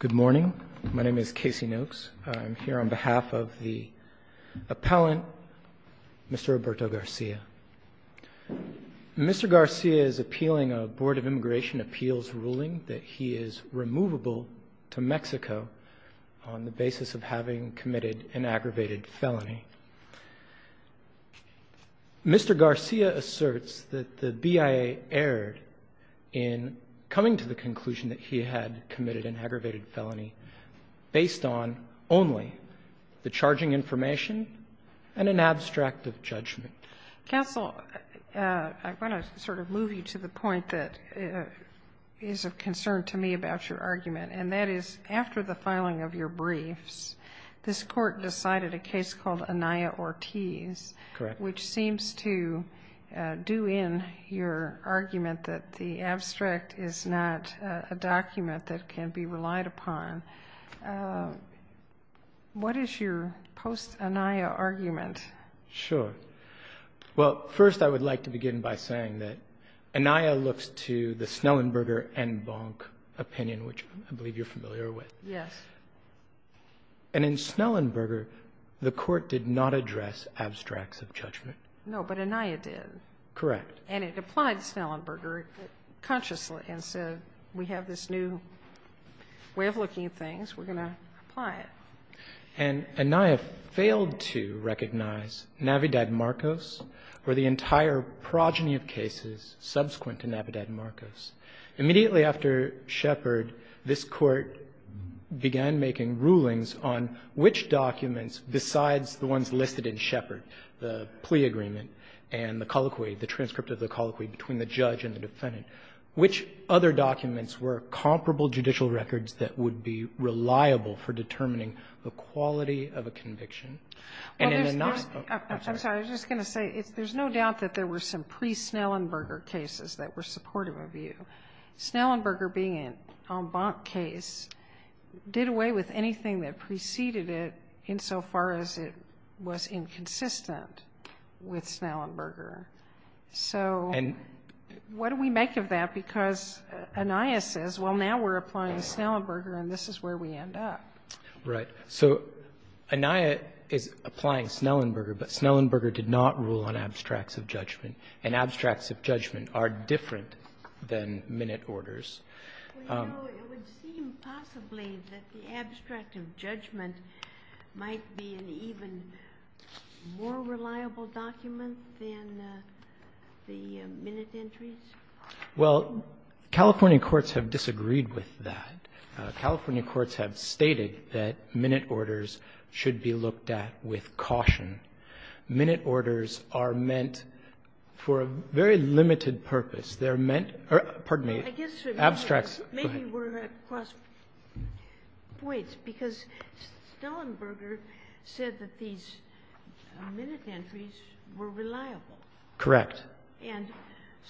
Good morning, my name is Casey Noakes. I'm here on behalf of the appellant, Mr. Roberto Garcia. Mr. Garcia is appealing a Board of Immigration Appeals ruling that he is removable to Mexico on the basis of having committed an aggravated felony. Mr. Garcia asserts that the BIA erred in coming to the conclusion that he had committed an aggravated felony based on only the charging information and an abstract of judgment. Counsel, I want to sort of move you to the point that is of concern to me about your argument, and that is after the filing of your briefs, this court decided a case called Anaya Ortiz, which seems to do in your argument that the abstract is not a document that can be relied upon. What is your post-Anaya argument? Sure. Well, first I would like to begin by saying that Anaya looks to the Snellenberger and Bonk opinion, which I believe you're familiar with. Yes. And in Snellenberger, the court did not address abstracts of judgment. No, but Anaya did. Correct. And it applied Snellenberger consciously and said, we have this new way of looking at things, we're going to apply it. And Anaya failed to recognize Navidad-Marcos or the entire progeny of cases subsequent to Navidad-Marcos. Immediately after Shepard, this Court began making rulings on which documents besides the ones listed in Shepard, the BIA or the BIA plea agreement, and the colloquy, the transcript of the colloquy between the judge and the defendant, which other documents were comparable judicial records that would be reliable for determining the quality of a conviction? And in Anaya ortiz I'm sorry, I was just going to say, there's no doubt that there were some pre-Snellenberger cases that were supportive of you. Snellenberger being an en banc case did away with anything that preceded it insofar as it was inconsistent with Snellenberger. So what do we make of that? Because Anaya says, well, now we're applying Snellenberger and this is where we end up. Right. So Anaya is applying Snellenberger, but Snellenberger did not rule on abstracts of judgment. And abstracts of judgment are different than minute orders. Well, you know, it would seem possibly that the abstract of judgment might be an even more reliable document than the minute entries. Well, California courts have disagreed with that. California courts have stated that minute orders should be looked at with caution. Minute orders are meant for a very limited purpose. They're meant or, pardon me. I guess maybe we're at cross points because Snellenberger said that these minute entries were reliable. Correct. And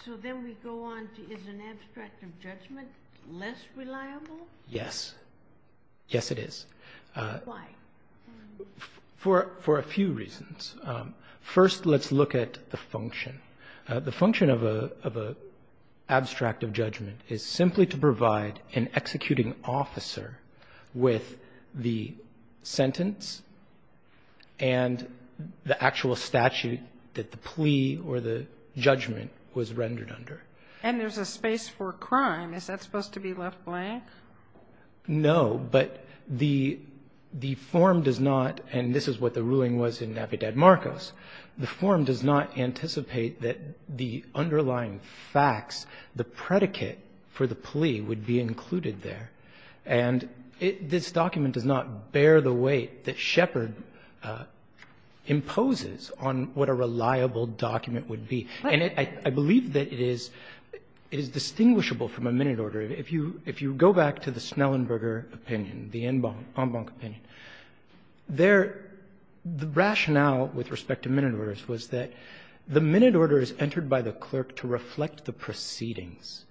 so then we go on to, is an abstract of judgment less reliable? Yes. Yes, it is. Why? First, let's look at the function. The function of an abstract of judgment is simply to provide an executing officer with the sentence and the actual statute that the plea or the judgment was rendered under. And there's a space for crime. Is that supposed to be left blank? No. But the form does not, and this is what the ruling was in Navidad-Marcos, the form does not anticipate that the underlying facts, the predicate for the plea would be included there. And this document does not bear the weight that Shepard imposes on what a reliable document would be. And I believe that it is distinguishable from a minute order. If you go back to the Snellenberger opinion, the en banc opinion, there, the rationale with respect to minute orders was that the minute order is entered by the clerk to reflect the proceedings.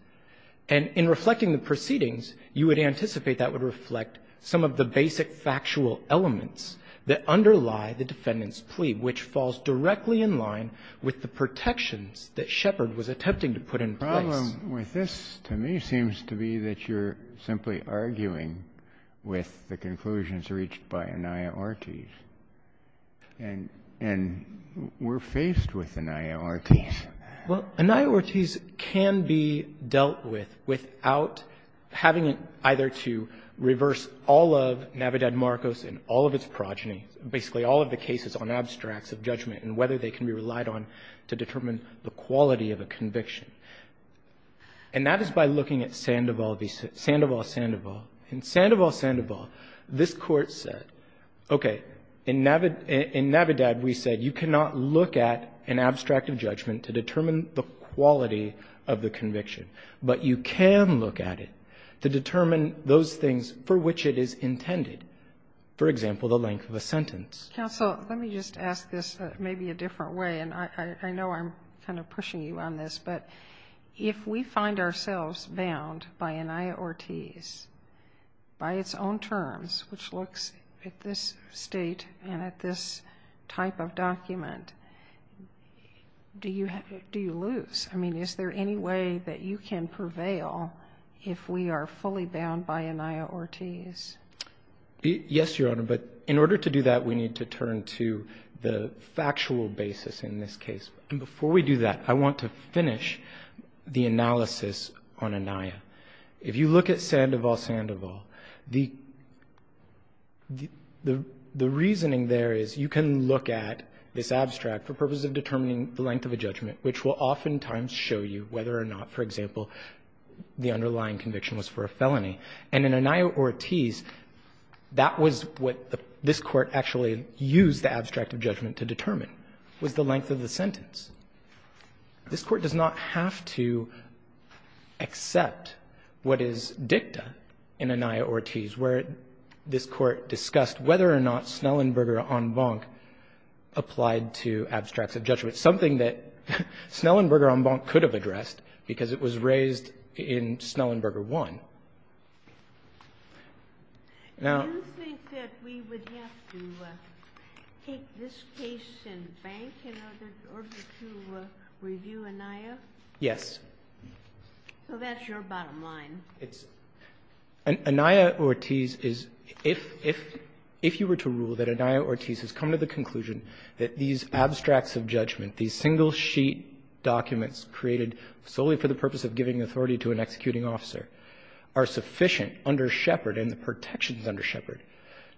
And in reflecting the proceedings, you would anticipate that would reflect some of the basic factual elements that underlie the defendant's plea, which falls directly in line with the protections that Shepard was attempting to put in place. The problem with this, to me, seems to be that you're simply arguing with the conclusions reached by Anaya-Ortiz, and we're faced with Anaya-Ortiz. Well, Anaya-Ortiz can be dealt with without having either to reverse all of Navidad-Marcos and all of its progeny, basically all of the cases on abstracts of judgment, and whether they can be relied on to determine the quality of a conviction. And that is by looking at Sandoval v. Sandoval-Sandoval. In Sandoval-Sandoval, this Court said, okay, in Navidad we said you cannot look at an abstract of judgment to determine the quality of the conviction, but you can look at it to determine those things for which it is intended, for example, the length of a sentence. Counsel, let me just ask this maybe a different way, and I know I'm kind of pushing you on this, but if we find ourselves bound by Anaya-Ortiz, by its own terms, which looks at this State and at this type of document, do you lose? I mean, is there any way that you can prevail if we are fully bound by Anaya-Ortiz? Yes, Your Honor, but in order to do that, we need to turn to the factual basis in this case in order to finish the analysis on Anaya. If you look at Sandoval-Sandoval, the reasoning there is you can look at this abstract for purposes of determining the length of a judgment, which will oftentimes show you whether or not, for example, the underlying conviction was for a felony. And in Anaya-Ortiz, that was what this Court actually used the abstract of judgment to determine, was the length of the sentence. This Court does not have to accept what is dicta in Anaya-Ortiz, where this Court discussed whether or not Snellenberger en banc applied to abstracts of judgment, something that Snellenberger en banc could have addressed because it was raised in Snellenberger 1. Now you think that we would have to take this case in bank in order to do that? To review Anaya? Yes. So that's your bottom line. Anaya-Ortiz is – if you were to rule that Anaya-Ortiz has come to the conclusion that these abstracts of judgment, these single-sheet documents created solely for the purpose of giving authority to an executing officer are sufficient under Shepard and the protections under Shepard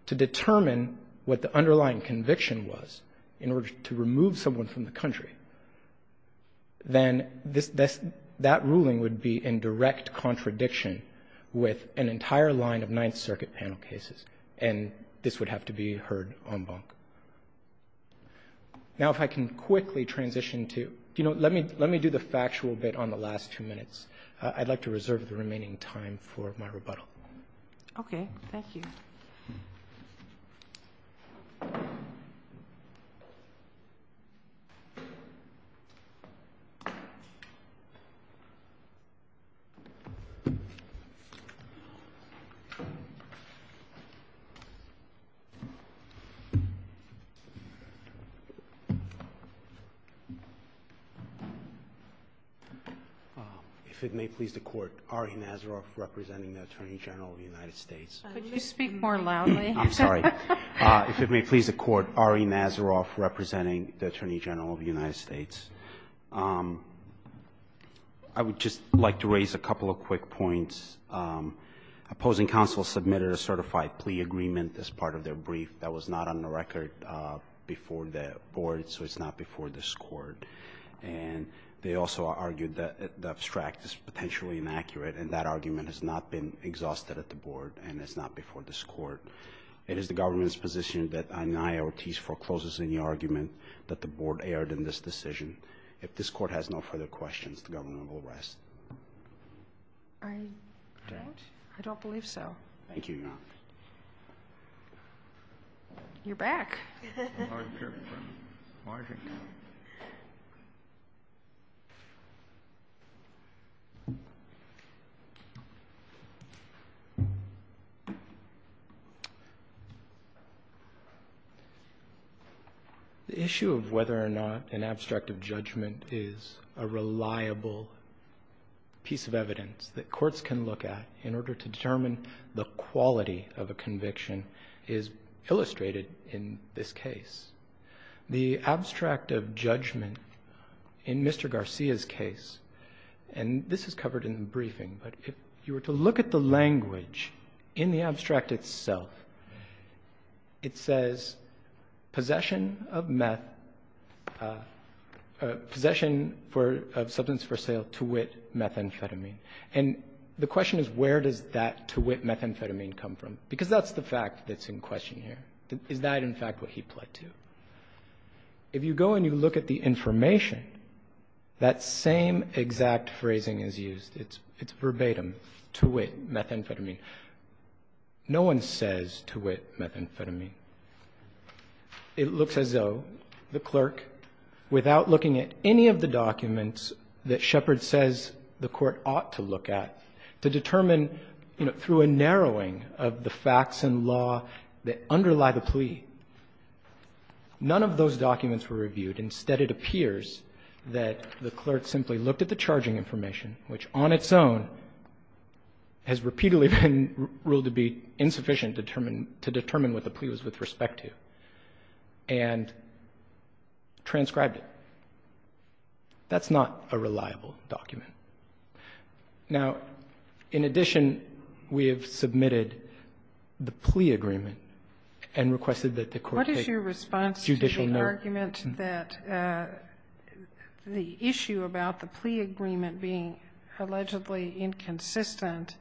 to determine what the underlying conviction was in order to remove someone from the country, then this – that ruling would be in direct contradiction with an entire line of Ninth Circuit panel cases, and this would have to be heard en banc. Now, if I can quickly transition to – you know, let me do the factual bit on the last few minutes. I'd like to reserve the remaining time for my rebuttal. Okay. Thank you. If it may please the Court, Ari Nazaroff, representing the Attorney General of the United States. Could you speak more loudly? I'm sorry. If it may please the Court, Ari Nazaroff, representing the Attorney General of the United States. I would just like to raise a couple of quick points. Opposing counsel submitted a certified plea agreement as part of their brief. That was not on the record before the board, so it's not before this Court. And they also argued that the abstract is potentially inaccurate, and that argument has not been exhausted at the board, and it's not before this Court. It is the government's position that an I.R.T.'s foreclosures in the argument that the board erred in this decision. If this Court has no further questions, the government will rest. I don't. I don't believe so. Thank you, Your Honor. You're back. The issue of whether or not an abstract of judgment is a reliable piece of evidence that courts can look at in order to determine the quality of a conviction is illustrated in this case. The abstract of judgment in Mr. Garcia's case, and this is covered in the briefing, but if you were to look at the language in the abstract itself, it says, possession of meth, possession of substance for sale to wit methamphetamine. And the question is, where does that to wit methamphetamine come from? Because that's the fact that's in question here. Is that, in fact, what he pled to? If you go and you look at the information, that same exact phrasing is used. It's verbatim, to wit methamphetamine. No one says to wit methamphetamine. It looks as though the clerk, without looking at any of the documents that Shepard says the Court ought to look at, to determine, you know, through a narrowing of the case by the plea. None of those documents were reviewed. Instead, it appears that the clerk simply looked at the charging information, which on its own has repeatedly been ruled to be insufficient to determine what the plea was with respect to, and transcribed it. That's not a reliable document. Now, in addition, we have submitted the plea agreement and requested that the Court Sotomayor, what is your response to the argument that the issue about the plea agreement being allegedly inconsistent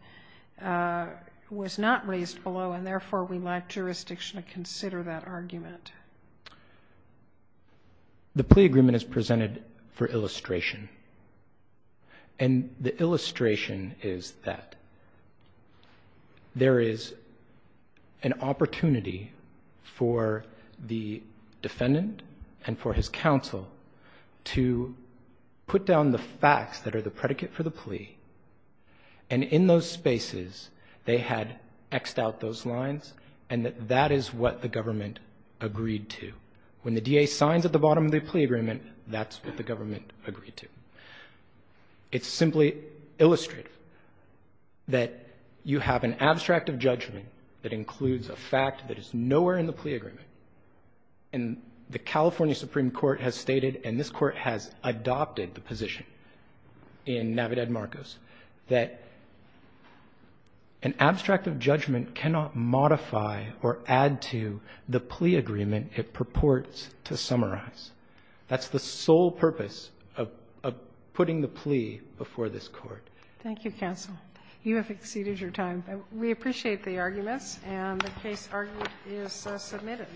was not raised below, and therefore, we'd like jurisdiction to consider that argument? The plea agreement is presented for illustration. And the illustration is that there is an opportunity for the defendant and for his counsel to put down the facts that are the predicate for the plea, and in those spaces, they had X'd out those lines, and that that is what the government agreed to. When the DA signs at the bottom of the plea agreement, that's what the government agreed to. It's simply illustrative that you have an abstract of judgment that includes a fact that is nowhere in the plea agreement. And the California Supreme Court has stated, and this Court has adopted the position in Navidad-Marcos, that an abstract of judgment cannot modify or add to the plea agreement it purports to summarize. That's the sole purpose of putting the plea before this Court. Thank you, counsel. You have exceeded your time. We appreciate the arguments, and the case argument is submitted.